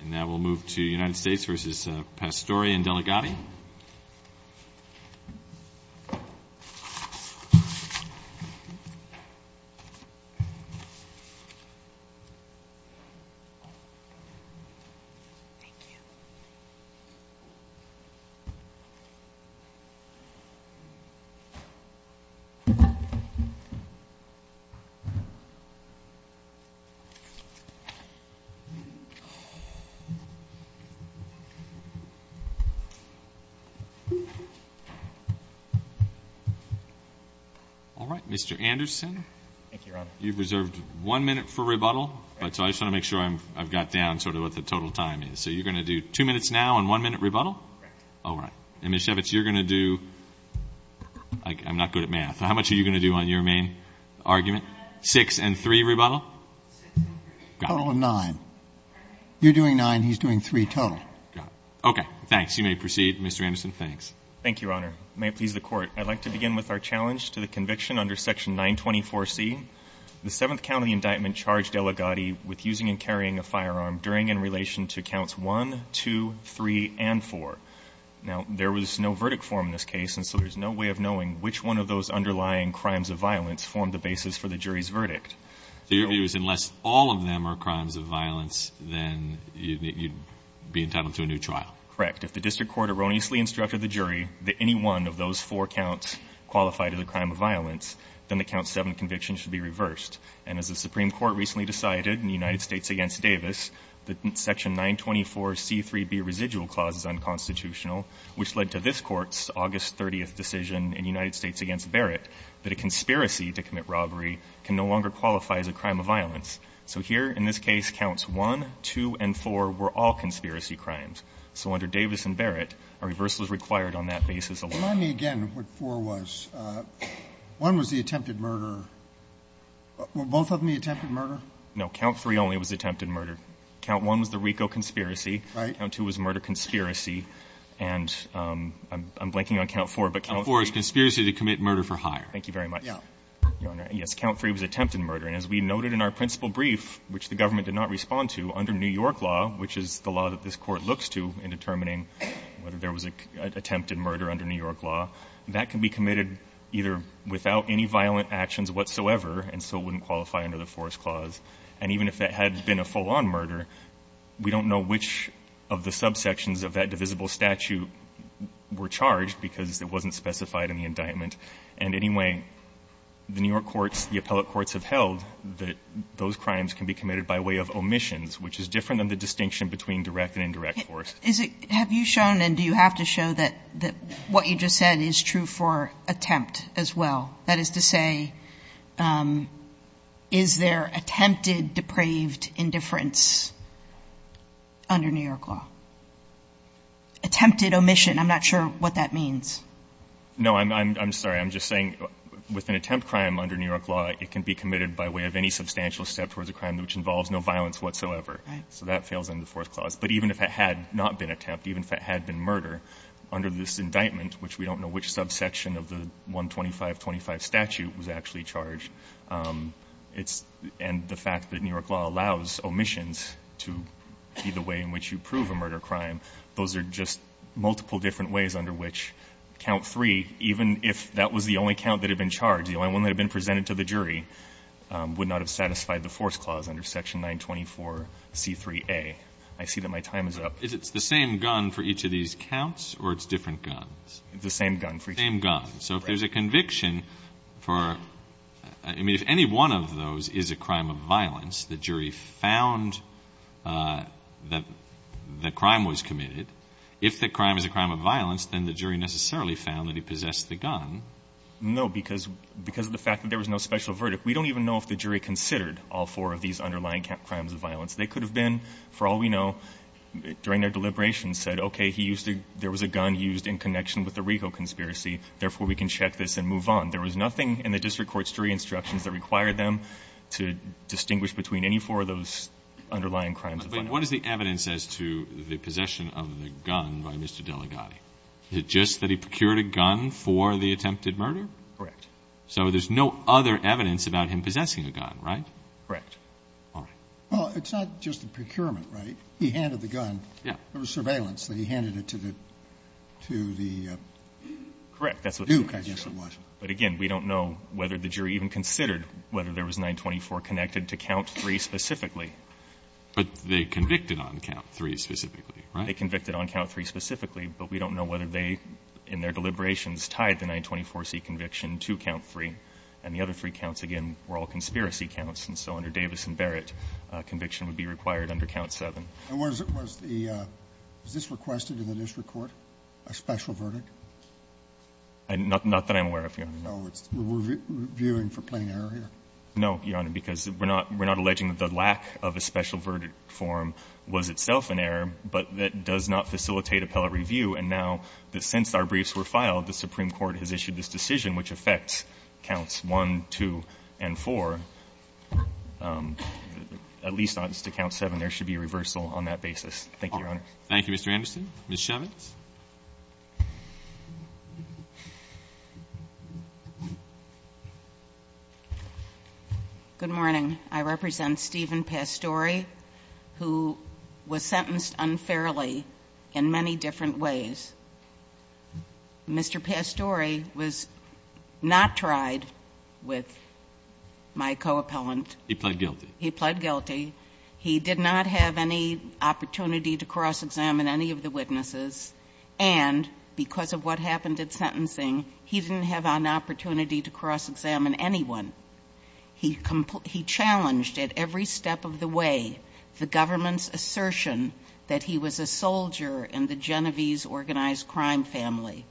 And now we'll move to United States v. Pastore and Delegati. All right, Mr. Anderson, you've reserved one minute for rebuttal, but I just want to make sure I've got down sort of what the total time is. So you're going to do two minutes now and one minute rebuttal? Correct. All right. And Ms. Shevitz, you're going to do—I'm not good at math. How much are you going to do on your main argument? Six and three rebuttal? Total of nine. You're doing nine. He's doing three total. Got it. Okay. Thanks. You may proceed, Mr. Anderson. Thanks. Thank you, Your Honor. May it please the Court, I'd like to begin with our challenge to the conviction under section 924C. The Seventh County indictment charged Delegati with using and carrying a firearm during and relation to counts 1, 2, 3, and 4. Now there was no verdict form in this case, and so there's no way of knowing which one of those underlying crimes of violence formed the basis for the jury's verdict. So your view is unless all of them are crimes of violence, then you'd be entitled to a new trial? Correct. If the district court erroneously instructed the jury that any one of those four counts qualified as a crime of violence, then the count 7 conviction should be reversed. And as the Supreme Court recently decided in the United States against Davis, the section 924C.3.B. residual clause is unconstitutional, which led to this Court's August 30th decision in the United States against Barrett that a conspiracy to commit robbery can no longer qualify as a crime of violence. So here in this case, counts 1, 2, and 4 were all conspiracy crimes. So under Davis and Barrett, a reversal is required on that basis alone. Remind me again what 4 was. 1 was the attempted murder. Were both of them the attempted murder? No. Count 3 only was the attempted murder. Count 1 was the RICO conspiracy. Right. Count 2 was murder conspiracy. And I'm blanking on count 4. Count 4 is conspiracy to commit murder for hire. Thank you very much, Your Honor. Yes. Count 3 was attempted murder. And as we noted in our principal brief, which the government did not respond to, under New York law, which is the law that this Court looks to in determining whether there was an attempted murder under New York law, that can be committed either without any violent actions whatsoever, and so it wouldn't qualify under the Forest Clause. And even if that had been a full-on murder, we don't know which of the subsections of that divisible statute were charged because it wasn't specified in the indictment. And anyway, the New York courts, the appellate courts have held that those crimes can be committed by way of omissions, which is different than the distinction between direct and indirect force. Have you shown, and do you have to show, that what you just said is true for attempt as well? That is to say, is there attempted depraved indifference under New York law? Attempted omission. I'm not sure what that means. No, I'm sorry. I'm just saying with an attempt crime under New York law, it can be committed by way of any substantial step towards a crime which involves no violence whatsoever. So that fails under the Forest Clause. But even if it had not been attempt, even if it had been murder, under this indictment, which we don't know which subsection of the 12525 statute was actually charged, it's the fact that New York law allows omissions to be the way in which you prove a murder crime. Those are just multiple different ways under which count three, even if that was the only count that had been charged, the only one that had been presented to the jury, would not have satisfied the Forest Clause under section 924C3A. I see that my time is up. Is it the same gun for each of these counts, or it's different guns? The same gun. The same gun. So if there's a conviction for any one of those is a crime of violence, the jury found that the crime was committed. If the crime is a crime of violence, then the jury necessarily found that he possessed the gun. No, because of the fact that there was no special verdict. We don't even know if the jury considered all four of these underlying crimes of violence. They could have been, for all we know, during their deliberations said, okay, there was a gun used in connection with the Rico conspiracy, therefore we can check this and move on. There was nothing in the district court's jury instructions that required them to consider those underlying crimes of violence. But what is the evidence as to the possession of the gun by Mr. Delegati? Is it just that he procured a gun for the attempted murder? Correct. So there's no other evidence about him possessing a gun, right? Correct. All right. Well, it's not just the procurement, right? He handed the gun. Yeah. There was surveillance that he handed it to the Duke, I guess it was. Correct. But again, we don't know whether the jury even considered whether there was 924 connected to Count III specifically. But they convicted on Count III specifically, right? They convicted on Count III specifically, but we don't know whether they, in their deliberations, tied the 924C conviction to Count III. And the other three counts, again, were all conspiracy counts. And so under Davis and Barrett, conviction would be required under Count VII. And was the – was this requested in the district court, a special verdict? Not that I'm aware of, Your Honor. No. We're viewing for plain error here. No, Your Honor, because we're not – we're not alleging that the lack of a special verdict form was itself an error, but that does not facilitate appellate review. And now that since our briefs were filed, the Supreme Court has issued this decision which affects Counts I, II, and IV, at least as to Count VII, there should be a reversal on that basis. Thank you, Your Honor. Thank you, Mr. Anderson. Ms. Chevins. Good morning. I represent Stephen Pastore, who was sentenced unfairly in many different ways. Mr. Pastore was not tried with my co-appellant. He pled guilty. He pled guilty. He did not have any opportunity to cross-examine any of the witnesses. And because of what happened at sentencing, he didn't have an opportunity to cross-examine anyone. He challenged at every step of the way the government's assertion that he was a soldier in the Genovese organized crime family.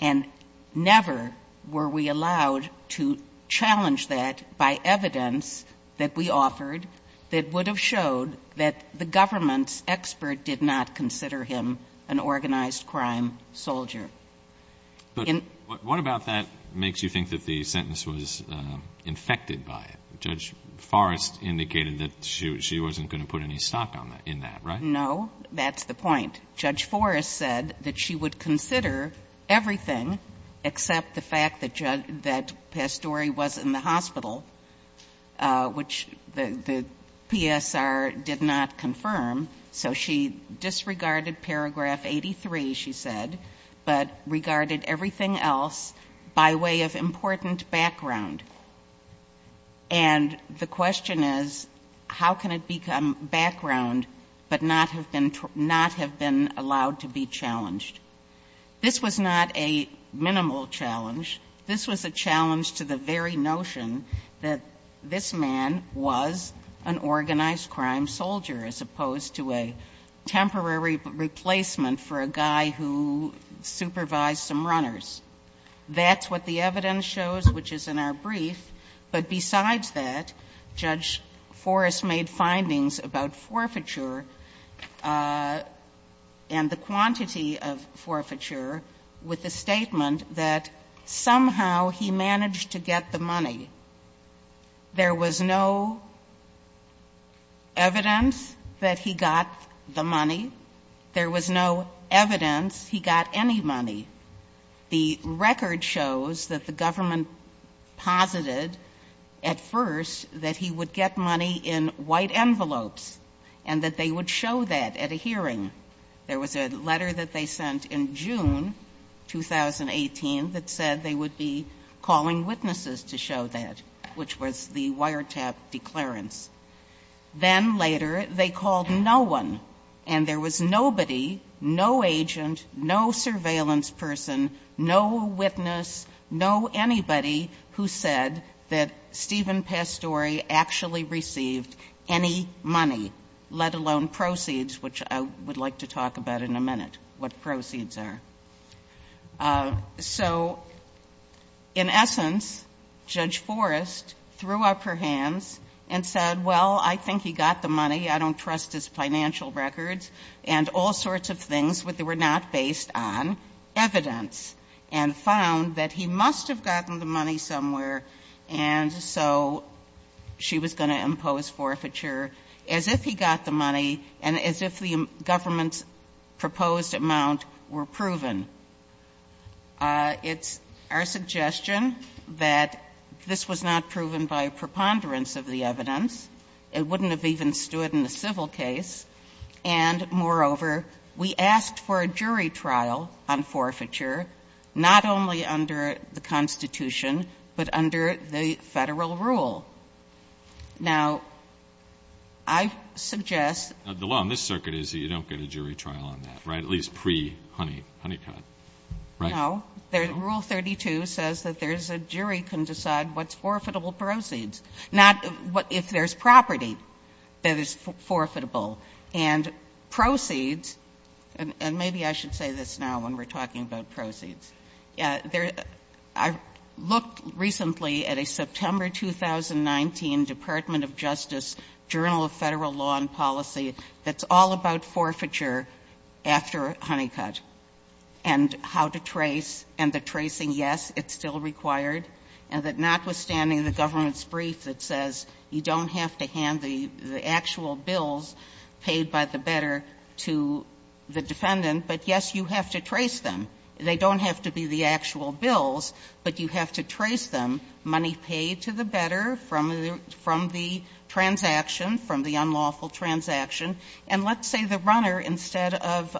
And never were we allowed to challenge that by evidence that we offered that would have shown that the government's expert did not consider him an organized crime soldier. But what about that makes you think that the sentence was infected by it? Judge Forrest indicated that she wasn't going to put any stock in that, right? No. That's the point. Judge Forrest said that she would consider everything except the fact that Pastore was in the hospital, which the PSR did not confirm. So she disregarded paragraph 83, she said, but regarded everything else by way of important background. And the question is, how can it become background but not have been allowed to be challenged? This was not a minimal challenge. This was a challenge to the very notion that this man was an organized crime soldier as opposed to a temporary replacement for a guy who supervised some runners. That's what the evidence shows, which is in our brief. But besides that, Judge Forrest made findings about forfeiture and the quantity of forfeiture with the statement that somehow he managed to get the money. There was no evidence that he got the money. There was no evidence he got any money. The record shows that the government posited at first that he would get money in white envelopes and that they would show that at a hearing. There was a letter that they sent in June 2018 that said they would be calling witnesses to show that, which was the wiretap declarance. Then later, they called no one, and there was nobody, no agent, no surveillance person, no witness, no anybody who said that Stephen Pastore actually received any money, let alone proceeds, which I would like to talk about in a minute, what proceeds are. So in essence, Judge Forrest threw up her hands and said, well, I think he got the money, I don't trust his financial records, and all sorts of things that were not based on evidence, and found that he must have gotten the money somewhere, and so she was going to impose forfeiture as if he got the money and as if the government's proposed amount were proven. It's our suggestion that this was not proven by a preponderance of the evidence. It wouldn't have even stood in a civil case, and moreover, we asked for a jury trial on forfeiture, not only under the Constitution, but under the Federal rule. Now, I suggest the law in this circuit is you don't get a jury trial on that, right? At least pre-Honeycutt, right? No. Rule 32 says that there's a jury can decide what's forfeitable proceeds, not if there's property that is forfeitable. And proceeds, and maybe I should say this now when we're talking about proceeds, I looked recently at a September 2019 Department of Justice Journal of Federal Law and Policy that's all about forfeiture after Honeycutt and how to trace, and the tracing, yes, it's still required, and that notwithstanding the government's brief that says you don't have to hand the actual bills paid by the better to the defendant, but yes, you have to trace them. They don't have to be the actual bills, but you have to trace them, money paid to the better from the transaction, from the unlawful transaction. And let's say the runner, instead of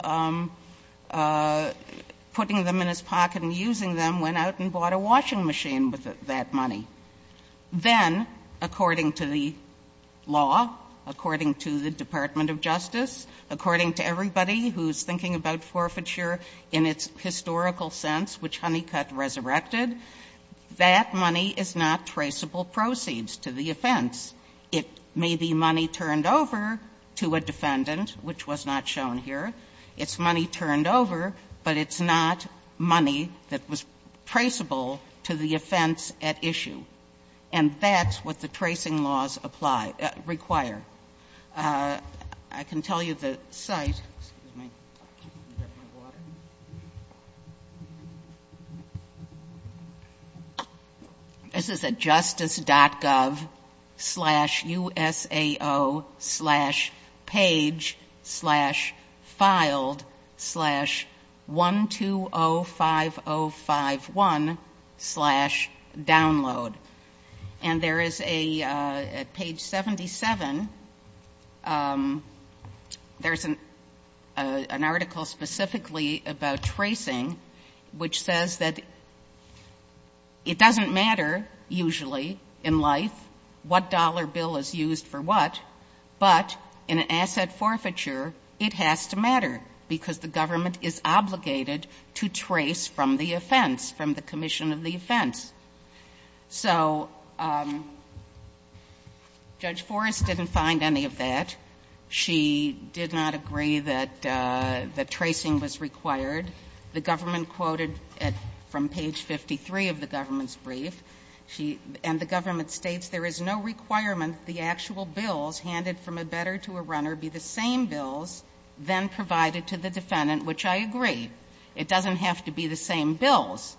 putting them in his pocket and using them, went out and bought a washing machine with that money. Then, according to the law, according to the Department of Justice, according to everybody who's thinking about forfeiture in its historical sense, which Honeycutt resurrected, that money is not traceable proceeds to the offense. It may be money turned over to a defendant, which was not shown here. It's money turned over, but it's not money that was traceable to the offense at issue. And that's what the tracing laws apply or require. I can tell you the site. Excuse me. Is that my water? This is at justice.gov slash USAO slash page slash filed slash 1205051 slash download. And there is a page 77. There's an article specifically about tracing, which says that it doesn't matter usually in life what dollar bill is used for what, but in an asset forfeiture, it has to matter, because the government is obligated to trace from the offense, from the commission of the offense. So Judge Forrest didn't find any of that. She did not agree that tracing was required. The government quoted from page 53 of the government's brief, and the government states, there is no requirement the actual bills handed from a bettor to a runner be the same bills then provided to the defendant, which I agree. It doesn't have to be the same bills,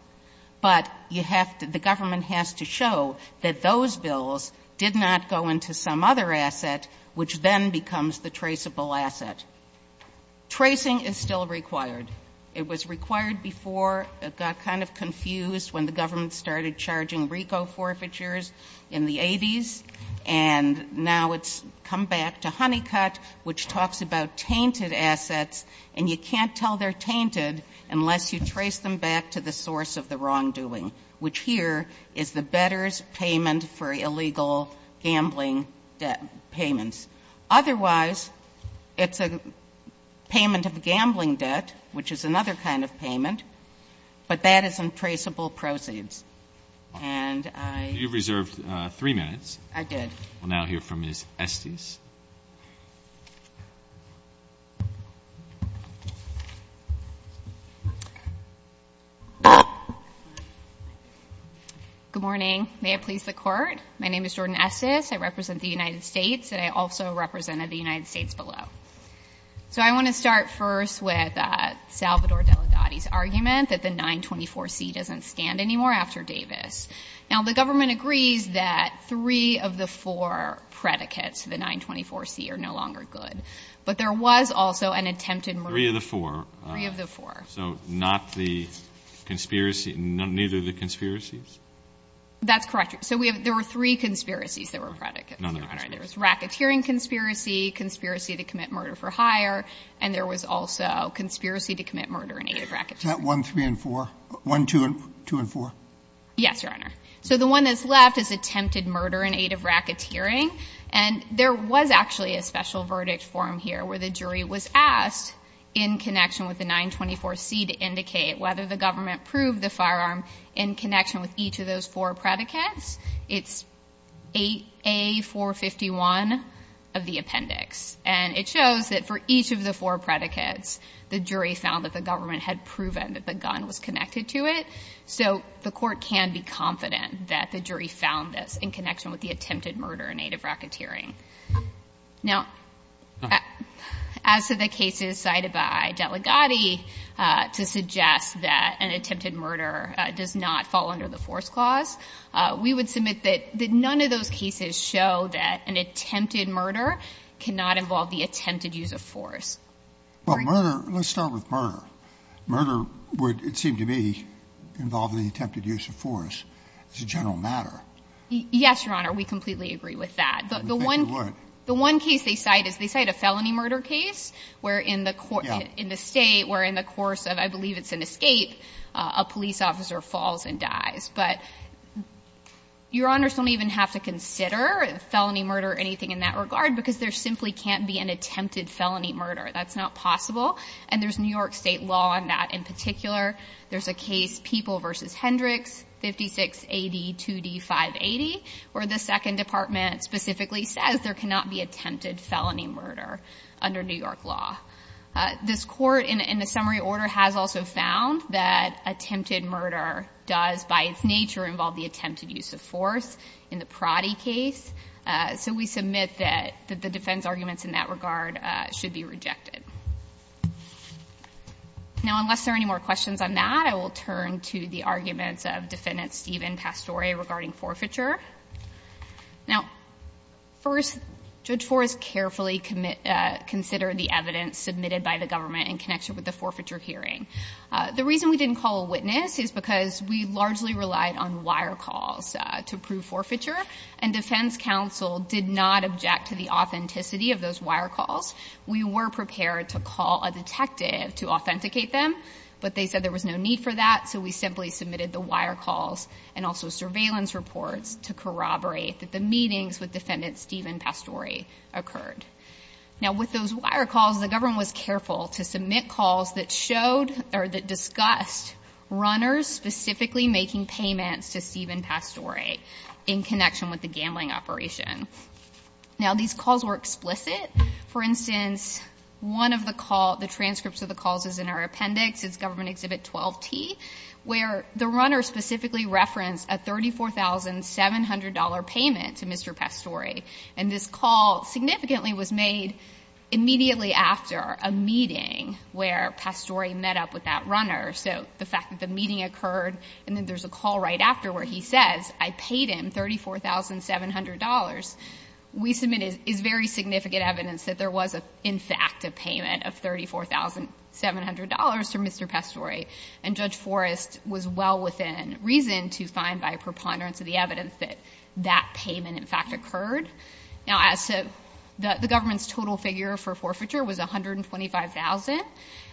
but you have to the government has to show that those bills did not go into some other asset, which then becomes the traceable asset. Tracing is still required. It was required before it got kind of confused when the government started charging RICO forfeitures in the 80s, and now it's come back to Honeycutt, which talks about tainted unless you trace them back to the source of the wrongdoing, which here is the bettor's payment for illegal gambling debt payments. Otherwise, it's a payment of gambling debt, which is another kind of payment, but that is in traceable proceeds. And I ---- Good morning. May it please the Court. My name is Jordan Esses. I represent the United States, and I also represented the United States below. So I want to start first with Salvador Delgado's argument that the 924C doesn't stand anymore after Davis. Now, the government agrees that three of the four predicates of the 924C are no longer good, but there was also an attempted murder. Three of the four. Three of the four. So not the conspiracy, neither the conspiracies? That's correct. So we have ---- There were three conspiracies that were predicates, Your Honor. None of the conspiracies. There was racketeering conspiracy, conspiracy to commit murder for hire, and there was also conspiracy to commit murder in aid of racketeering. Is that 1, 3, and 4? 1, 2, and 4? Yes, Your Honor. So the one that's left is attempted murder in aid of racketeering, and there was actually a special verdict form here where the jury was asked in connection with the 924C to indicate whether the government proved the firearm in connection with each of those four predicates. It's 8A451 of the appendix. And it shows that for each of the four predicates, the jury found that the government had proven that the gun was connected to it. So the Court can be confident that the jury found this in connection with the attempted murder in aid of racketeering. Now, as to the cases cited by Delegati to suggest that an attempted murder does not fall under the force clause, we would submit that none of those cases show that an attempted murder cannot involve the attempted use of force. Well, murder ---- let's start with murder. Murder would, it seemed to me, involve the attempted use of force as a general matter. Yes, Your Honor. We completely agree with that. We think it would. The one case they cite is they cite a felony murder case where in the State, where in the course of, I believe it's an escape, a police officer falls and dies. But Your Honors don't even have to consider felony murder or anything in that regard because there simply can't be an attempted felony murder. That's not possible. And there's New York State law on that in particular. There's a case, People v. Hendricks, 56 AD 2D580, where the Second Department specifically says there cannot be attempted felony murder under New York law. This Court in a summary order has also found that attempted murder does by its nature involve the attempted use of force in the Prati case. So we submit that the defense arguments in that regard should be rejected. Now, unless there are any more questions on that, I will turn to the arguments of Defendant Stephen Pastore regarding forfeiture. Now, first, Judge Forrest carefully considered the evidence submitted by the government in connection with the forfeiture hearing. The reason we didn't call a witness is because we largely relied on wire calls to prove forfeiture, and defense counsel did not object to the authenticity of those wire calls. We were prepared to call a detective to authenticate them, but they said there was no need for that. So we simply submitted the wire calls and also surveillance reports to corroborate that the meetings with Defendant Stephen Pastore occurred. Now, with those wire calls, the government was careful to submit calls that showed or that discussed runners specifically making payments to Stephen Pastore in connection with the gambling operation. Now, these calls were explicit. For instance, one of the transcripts of the calls is in our appendix. It's Government Exhibit 12-T, where the runner specifically referenced a $34,700 payment to Mr. Pastore. And this call significantly was made immediately after a meeting where Pastore met up with that runner. So the fact that the meeting occurred and then there's a call right after where he says, I paid him $34,700, we submit is very significant evidence that there was in fact a payment of $34,700 to Mr. Pastore. And Judge Forrest was well within reason to find by preponderance of the evidence that that payment in fact occurred. Now, as to the government's total figure for forfeiture was $125,000.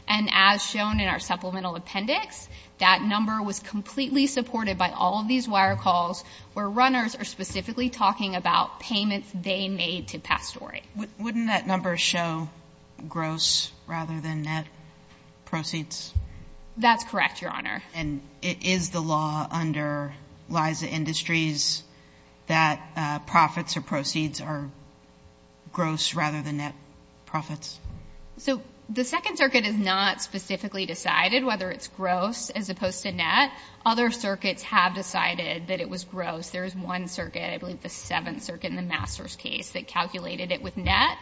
And as shown in our supplemental appendix, that number was completely supported by all of these wire calls where runners are specifically talking about payments they made to Pastore. Wouldn't that number show gross rather than net proceeds? That's correct, Your Honor. And is the law under Liza Industries that profits or proceeds are gross rather than net profits? So the Second Circuit has not specifically decided whether it's gross as opposed to net. Other circuits have decided that it was gross. There is one circuit, I believe the Seventh Circuit in the Masters case, that calculated it with net.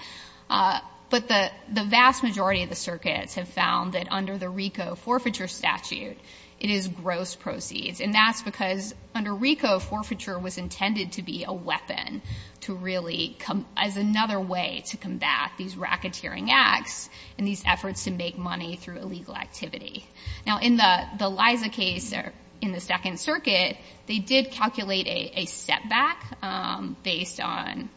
But the vast majority of the circuits have found that under the RICO forfeiture statute, it is gross proceeds. And that's because under RICO, forfeiture was intended to be a weapon to really come as another way to combat these racketeering acts and these efforts to make money through illegal activity. Now, in the Liza case or in the Second Circuit, they did calculate a setback based on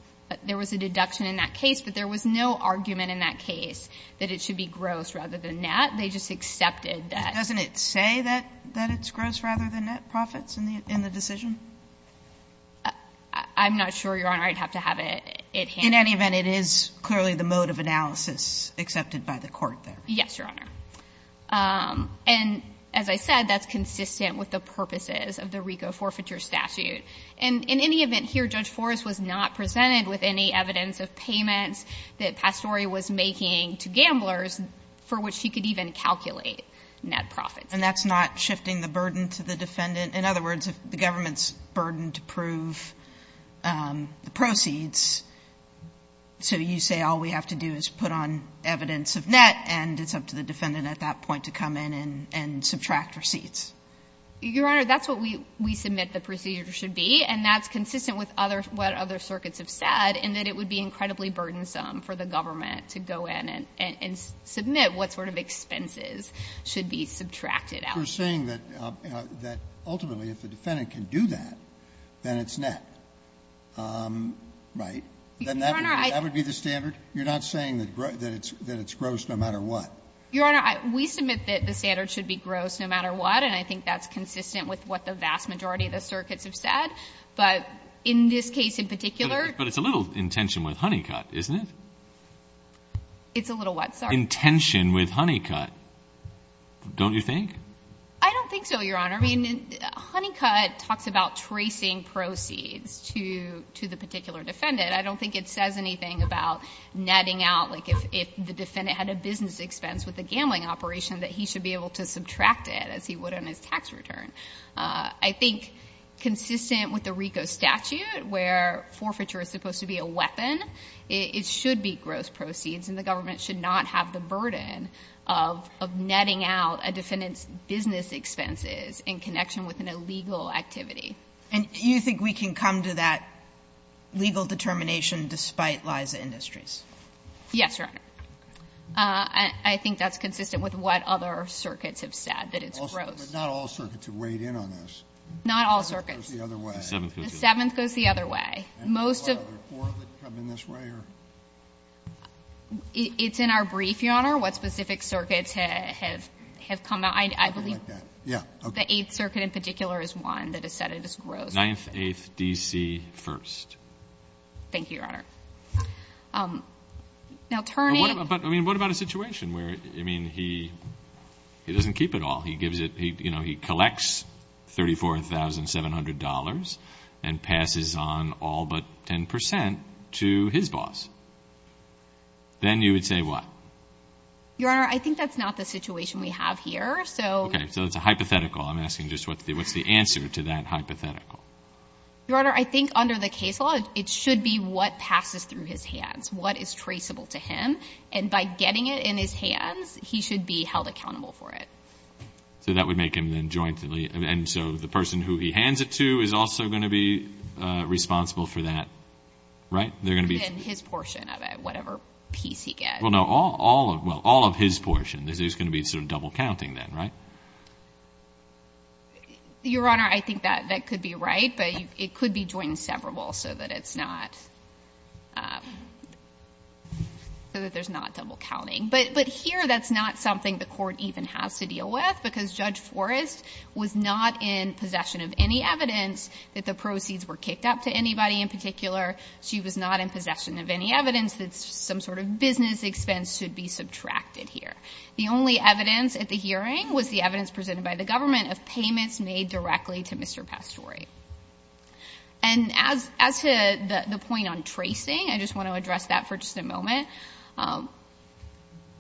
there was a deduction in that case, but there was no argument in that case that it should be gross rather than net. They just accepted that. Doesn't it say that it's gross rather than net profits in the decision? I'm not sure, Your Honor. I'd have to have it handled. In any event, it is clearly the mode of analysis accepted by the Court there. Yes, Your Honor. And as I said, that's consistent with the purposes of the RICO forfeiture statute. And in any event here, Judge Forrest was not presented with any evidence of payments that Pastore was making to gamblers for which she could even calculate net profits. And that's not shifting the burden to the defendant? In other words, if the government's burdened to prove the proceeds, so you say all we have to do is put on evidence of net and it's up to the defendant at that point to come in and subtract receipts? Your Honor, that's what we submit the procedure should be, and that's consistent with what other circuits have said, in that it would be incredibly burdensome for the government to go in and submit what sort of expenses should be subtracted out. You're saying that ultimately if the defendant can do that, then it's net, right? That would be the standard? You're not saying that it's gross no matter what? Your Honor, we submit that the standard should be gross no matter what. And I think that's consistent with what the vast majority of the circuits have said. But in this case in particular. But it's a little in tension with Honeycutt, isn't it? It's a little what? Sorry. In tension with Honeycutt, don't you think? I don't think so, Your Honor. I mean, Honeycutt talks about tracing proceeds to the particular defendant. I don't think it says anything about netting out, like if the defendant had a business expense with a gambling operation, that he should be able to subtract it as he would on his tax return. I think consistent with the RICO statute, where forfeiture is supposed to be a weapon, it should be gross proceeds and the government should not have the burden of netting out a defendant's business expenses in connection with an illegal activity. And you think we can come to that legal determination despite Liza Industries? Yes, Your Honor. I think that's consistent with what other circuits have said, that it's gross. But not all circuits have weighed in on this. Not all circuits. The seventh goes the other way. The seventh goes the other way. And what other four that come in this way? It's in our brief, Your Honor, what specific circuits have come out. I believe the Eighth Circuit in particular is one that has said it is gross. Thank you, Your Honor. What about a situation where he doesn't keep it all? He collects $34,700 and passes on all but 10 percent to his boss. Then you would say what? Your Honor, I think that's not the situation we have here. Okay. So it's a hypothetical. I'm asking just what's the answer to that hypothetical. Your Honor, I think under the case law, it should be what passes through his hands, what is traceable to him. And by getting it in his hands, he should be held accountable for it. So that would make him then jointly. And so the person who he hands it to is also going to be responsible for that, right? Within his portion of it, whatever piece he gets. Well, no, all of his portion. There's going to be some double counting then, right? Your Honor, I think that could be right, but it could be joint and severable so that it's not, so that there's not double counting. But here that's not something the court even has to deal with because Judge Forrest was not in possession of any evidence that the proceeds were kicked up to anybody in particular. She was not in possession of any evidence that some sort of business expense should be subtracted here. The only evidence at the hearing was the evidence presented by the government of payments made directly to Mr. Pastore. And as to the point on tracing, I just want to address that for just a moment.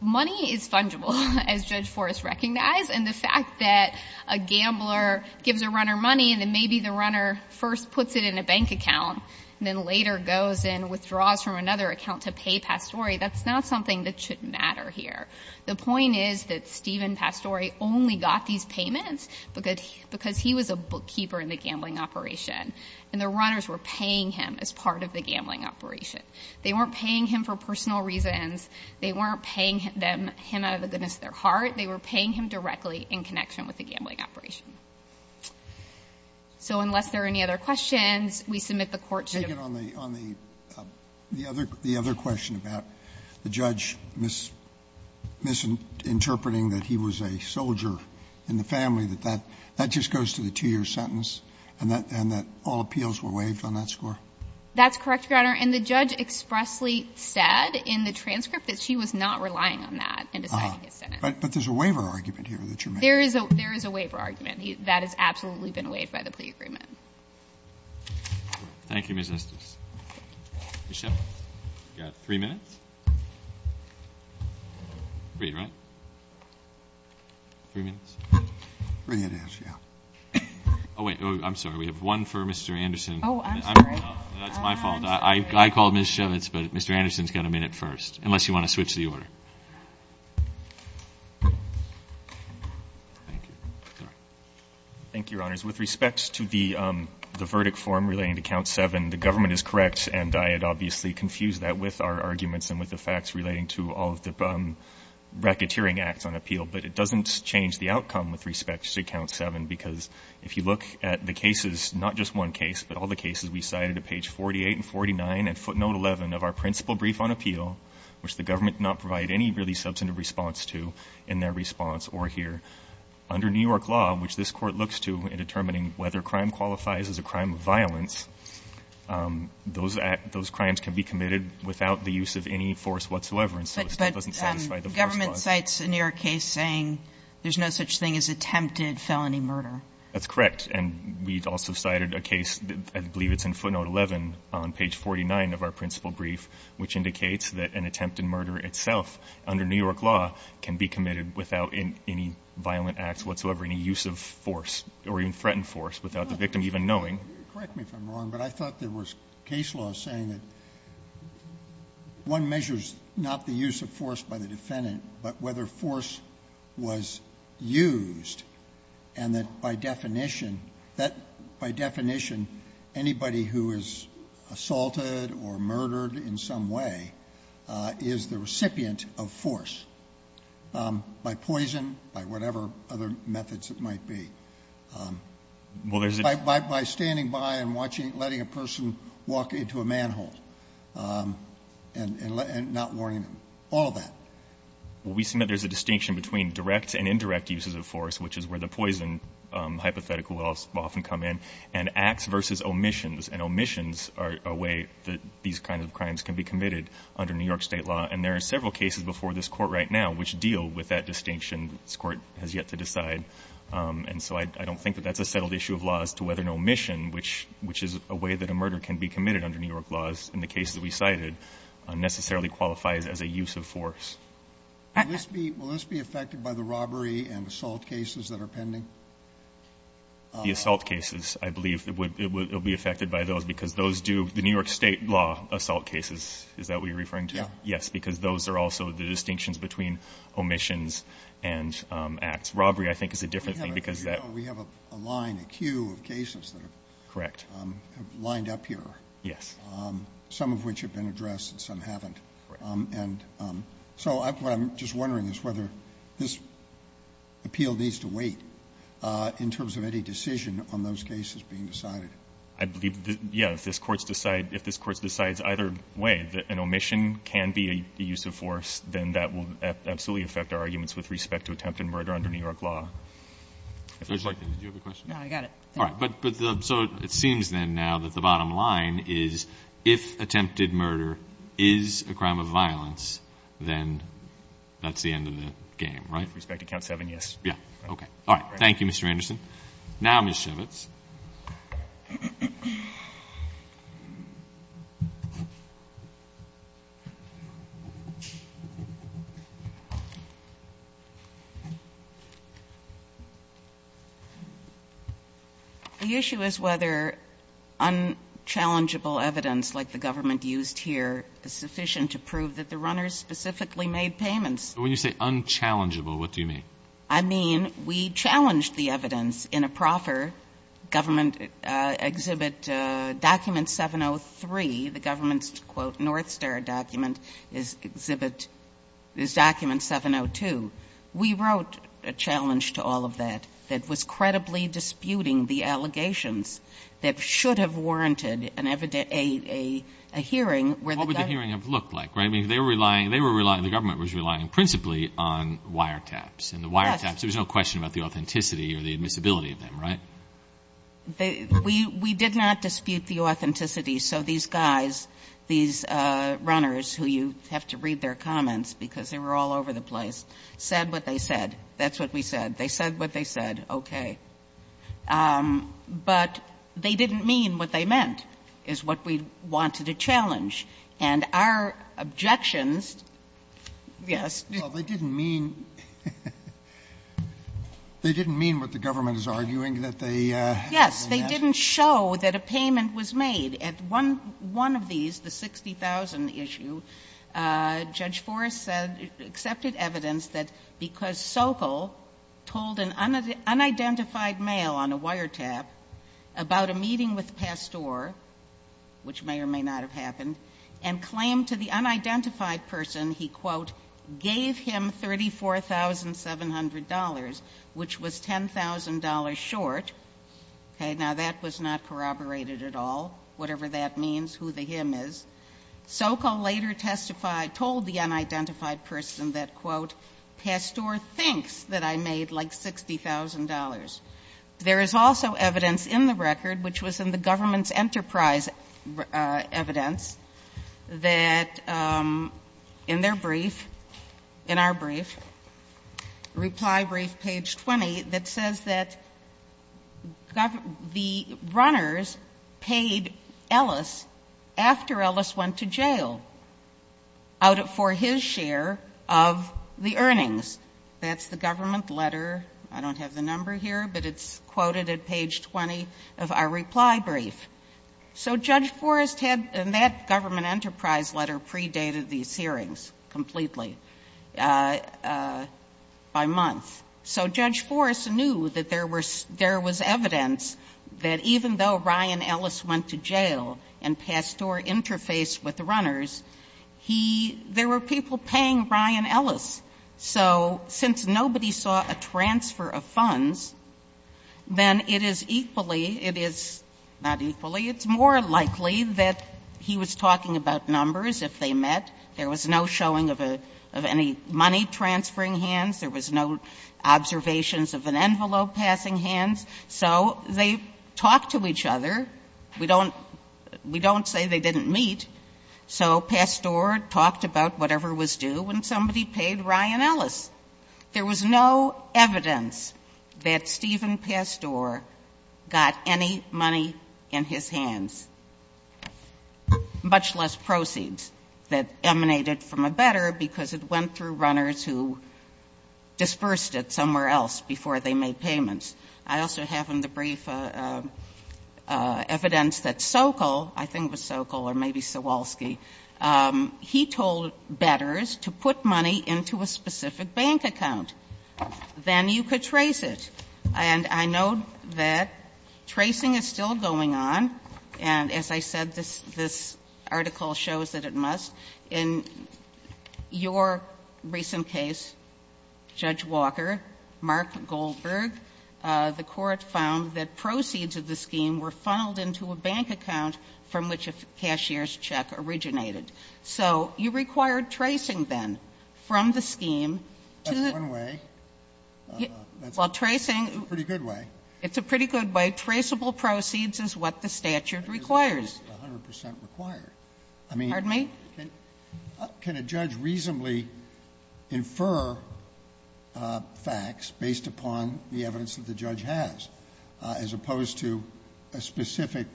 Money is fungible, as Judge Forrest recognized, and the fact that a gambler gives a runner money and then maybe the runner first puts it in a bank account and then later goes and withdraws from another account to pay Pastore, that's not something that should matter here. The point is that Steven Pastore only got these payments because he was a bookkeeper in the gambling operation, and the runners were paying him as part of the gambling operation. They weren't paying him for personal reasons. They weren't paying him out of the goodness of their heart. They were paying him directly in connection with the gambling operation. So unless there are any other questions, we submit the court should have. The other question about the judge misinterpreting that he was a soldier in the family, that that just goes to the 2-year sentence, and that all appeals were waived on that score? That's correct, Your Honor, and the judge expressly said in the transcript that she was not relying on that in deciding his sentence. But there's a waiver argument here that you're making. There is a waiver argument. That has absolutely been waived by the plea agreement. Thank you, Ms. Estes. Ms. Shevitz, you've got three minutes. Three, right? Three minutes? Three minutes, yeah. Oh, wait. I'm sorry. We have one for Mr. Anderson. Oh, I'm sorry. That's my fault. I called Ms. Shevitz, but Mr. Anderson's got a minute first, unless you want to switch the order. Thank you. Sorry. Thank you, Your Honors. With respect to the verdict form relating to Count 7, the government is correct, and I had obviously confused that with our arguments and with the facts relating to all of the racketeering acts on appeal. But it doesn't change the outcome with respect to Count 7, because if you look at the cases, not just one case, but all the cases we cited at page 48 and 49 and footnote 11 of our principal brief on appeal, which the government did not provide any really substantive response to in their response or here. Under New York law, which this Court looks to in determining whether crime qualifies as a crime of violence, those crimes can be committed without the use of any force whatsoever, and so it still doesn't satisfy the force clause. But government cites a New York case saying there's no such thing as attempted felony murder. That's correct. And we also cited a case, I believe it's in footnote 11 on page 49 of our principal brief, which indicates that an attempt at murder itself under New York law can be considered a violent act whatsoever in the use of force or even threatened force without the victim even knowing. You correct me if I'm wrong, but I thought there was case law saying that one measures not the use of force by the defendant, but whether force was used, and that by definition that by definition anybody who is assaulted or murdered in some way is the recipient of force by poison, by whatever other methods it might be. Well, there's a... By standing by and watching, letting a person walk into a manhole and not warning them, all of that. Well, we see that there's a distinction between direct and indirect uses of force, which is where the poison hypothetical will often come in, and acts versus omissions, and omissions are a way that these kinds of crimes can be committed under New York State law, and there are several cases before this Court right now which deal with that distinction. This Court has yet to decide. And so I don't think that that's a settled issue of laws to whether an omission, which is a way that a murder can be committed under New York laws in the cases that we cited, necessarily qualifies as a use of force. Will this be affected by the robbery and assault cases that are pending? The assault cases, I believe it will be affected by those because those do, the New York State law assault cases, is that what you're referring to? Yeah. Yes, because those are also the distinctions between omissions and acts. Robbery, I think, is a different thing because that we have a line, a queue of cases that are. Correct. Lined up here. Yes. Some of which have been addressed and some haven't. Right. And so what I'm just wondering is whether this appeal needs to wait in terms of any decision on those cases being decided. I believe, yeah, if this court decides either way that an omission can be a use of force, then that will absolutely affect our arguments with respect to attempted murder under New York law. Did you have a question? No, I got it. All right. So it seems then now that the bottom line is if attempted murder is a crime of violence, then that's the end of the game, right? With respect to count seven, yes. Yeah. Okay. All right. Thank you, Mr. Anderson. Now, Ms. Chivitz. The issue is whether unchallengeable evidence like the government used here is sufficient to prove that the runners specifically made payments. When you say unchallengeable, what do you mean? I mean we challenged the evidence in a proper government exhibit document 703. The government's, quote, North Star document is exhibit is document 702. We wrote a challenge to all of that that was credibly disputing the allegations that should have warranted a hearing. What would the hearing have looked like? I mean, they were relying, the government was relying principally on wiretaps and the wiretaps. There was no question about the authenticity or the admissibility of them, right? We did not dispute the authenticity. So these guys, these runners, who you have to read their comments because they were all over the place, said what they said. That's what we said. They said what they said. Okay. But they didn't mean what they meant is what we wanted to challenge. And our objections, yes. Well, they didn't mean what the government is arguing that they meant. Yes. They didn't show that a payment was made. At one of these, the 60,000 issue, Judge Forrest accepted evidence that because Sokol told an unidentified male on a wiretap about a meeting with Pasteur, which may or may not have happened, and claimed to the unidentified person he, quote, gave him $34,700, which was $10,000 short. Okay. Now, that was not corroborated at all, whatever that means, who the him is. Sokol later testified, told the unidentified person that, quote, Pasteur thinks that I made like $60,000. There is also evidence in the record, which was in the government's enterprise evidence, that in their brief, in our brief, reply brief page 20, that says that the runners paid Ellis after Ellis went to jail for his share of the earnings. That's the government letter. I don't have the number here, but it's quoted at page 20 of our reply brief. So Judge Forrest had, in that government enterprise letter, predated these hearings completely by month. So Judge Forrest knew that there was evidence that even though Ryan Ellis went to jail and Pasteur interfaced with the runners, there were people paying Ryan Ellis. So since nobody saw a transfer of funds, then it is equally, it is not equally, it's more likely that he was talking about numbers if they met. There was no showing of any money transferring hands. There was no observations of an envelope passing hands. So they talked to each other. We don't say they didn't meet. So Pasteur talked about whatever was due when somebody paid Ryan Ellis. There was no evidence that Stephen Pasteur got any money in his hands, much less proceeds that emanated from a better because it went through runners who dispersed it somewhere else before they made payments. I also have in the brief evidence that Sokol, I think it was Sokol or maybe Sawalsky, he told bettors to put money into a specific bank account. Then you could trace it. And I know that tracing is still going on. And as I said, this article shows that it must. In your recent case, Judge Walker, Mark Goldberg, the Court found that proceeds of the scheme were funneled into a bank account from which a cashier's check originated. So you required tracing, then, from the scheme to the one way. While tracing. It's a pretty good way. It's a pretty good way. Traceable proceeds is what the statute requires. It's 100 percent required. I mean, can a judge reasonably infer facts based upon the evidence that the judge has, as opposed to a specific,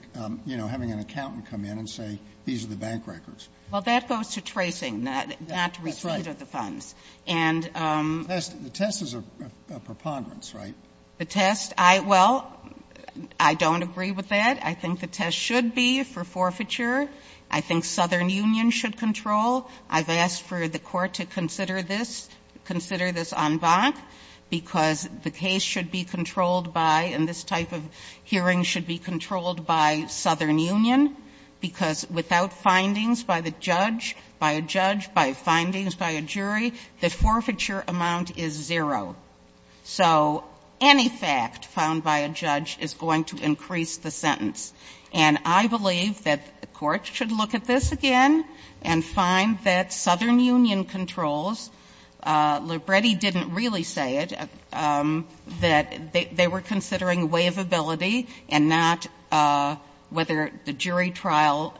you know, having an accountant come in and say, these are the bank records? Well, that goes to tracing, not to receipt of the funds. And the test is a preponderance, right? The test? Well, I don't agree with that. I think the test should be for forfeiture. I think Southern Union should control. I've asked for the Court to consider this, consider this en banc, because the case should be controlled by, and this type of hearing should be controlled by Southern Union, because without findings by the judge, by a judge, by findings by a jury, the forfeiture amount is zero. So any fact found by a judge is going to increase the sentence. And I believe that the Court should look at this again and find that Southern Union controls. Libretti didn't really say it, that they were considering waivability and not whether the jury trial,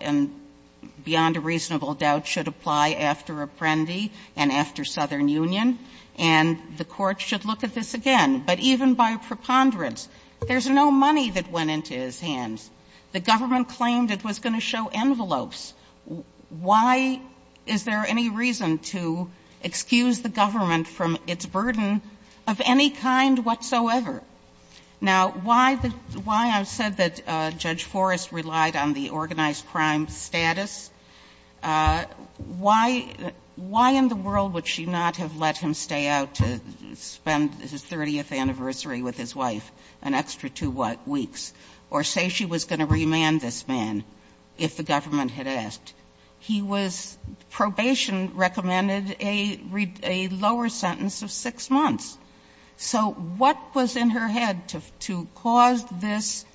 beyond a reasonable doubt, should apply after Apprendi and after Southern Union. And the Court should look at this again. But even by preponderance, there's no money that went into his hands. The government claimed it was going to show envelopes. Why is there any reason to excuse the government from its burden of any kind whatsoever? Now, why the why I said that Judge Forrest relied on the organized crime status, why in the world would she not have let him stay out to spend his 30th anniversary with his wife an extra two weeks, or say she was going to remand this man, if the government had asked? He was, probation recommended a lower sentence of 6 months. So what was in her head to cause this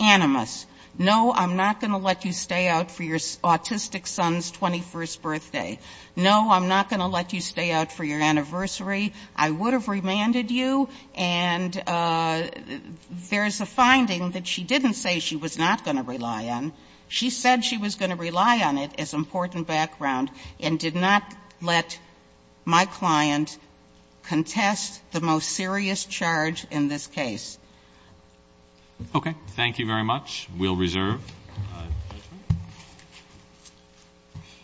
animus? No, I'm not going to let you stay out for your autistic son's 21st birthday. No, I'm not going to let you stay out for your anniversary. I would have remanded you. And there's a finding that she didn't say she was not going to rely on. She said she was going to rely on it as important background and did not let my client contest the most serious charge in this case. Okay. Thank you very much. We'll reserve.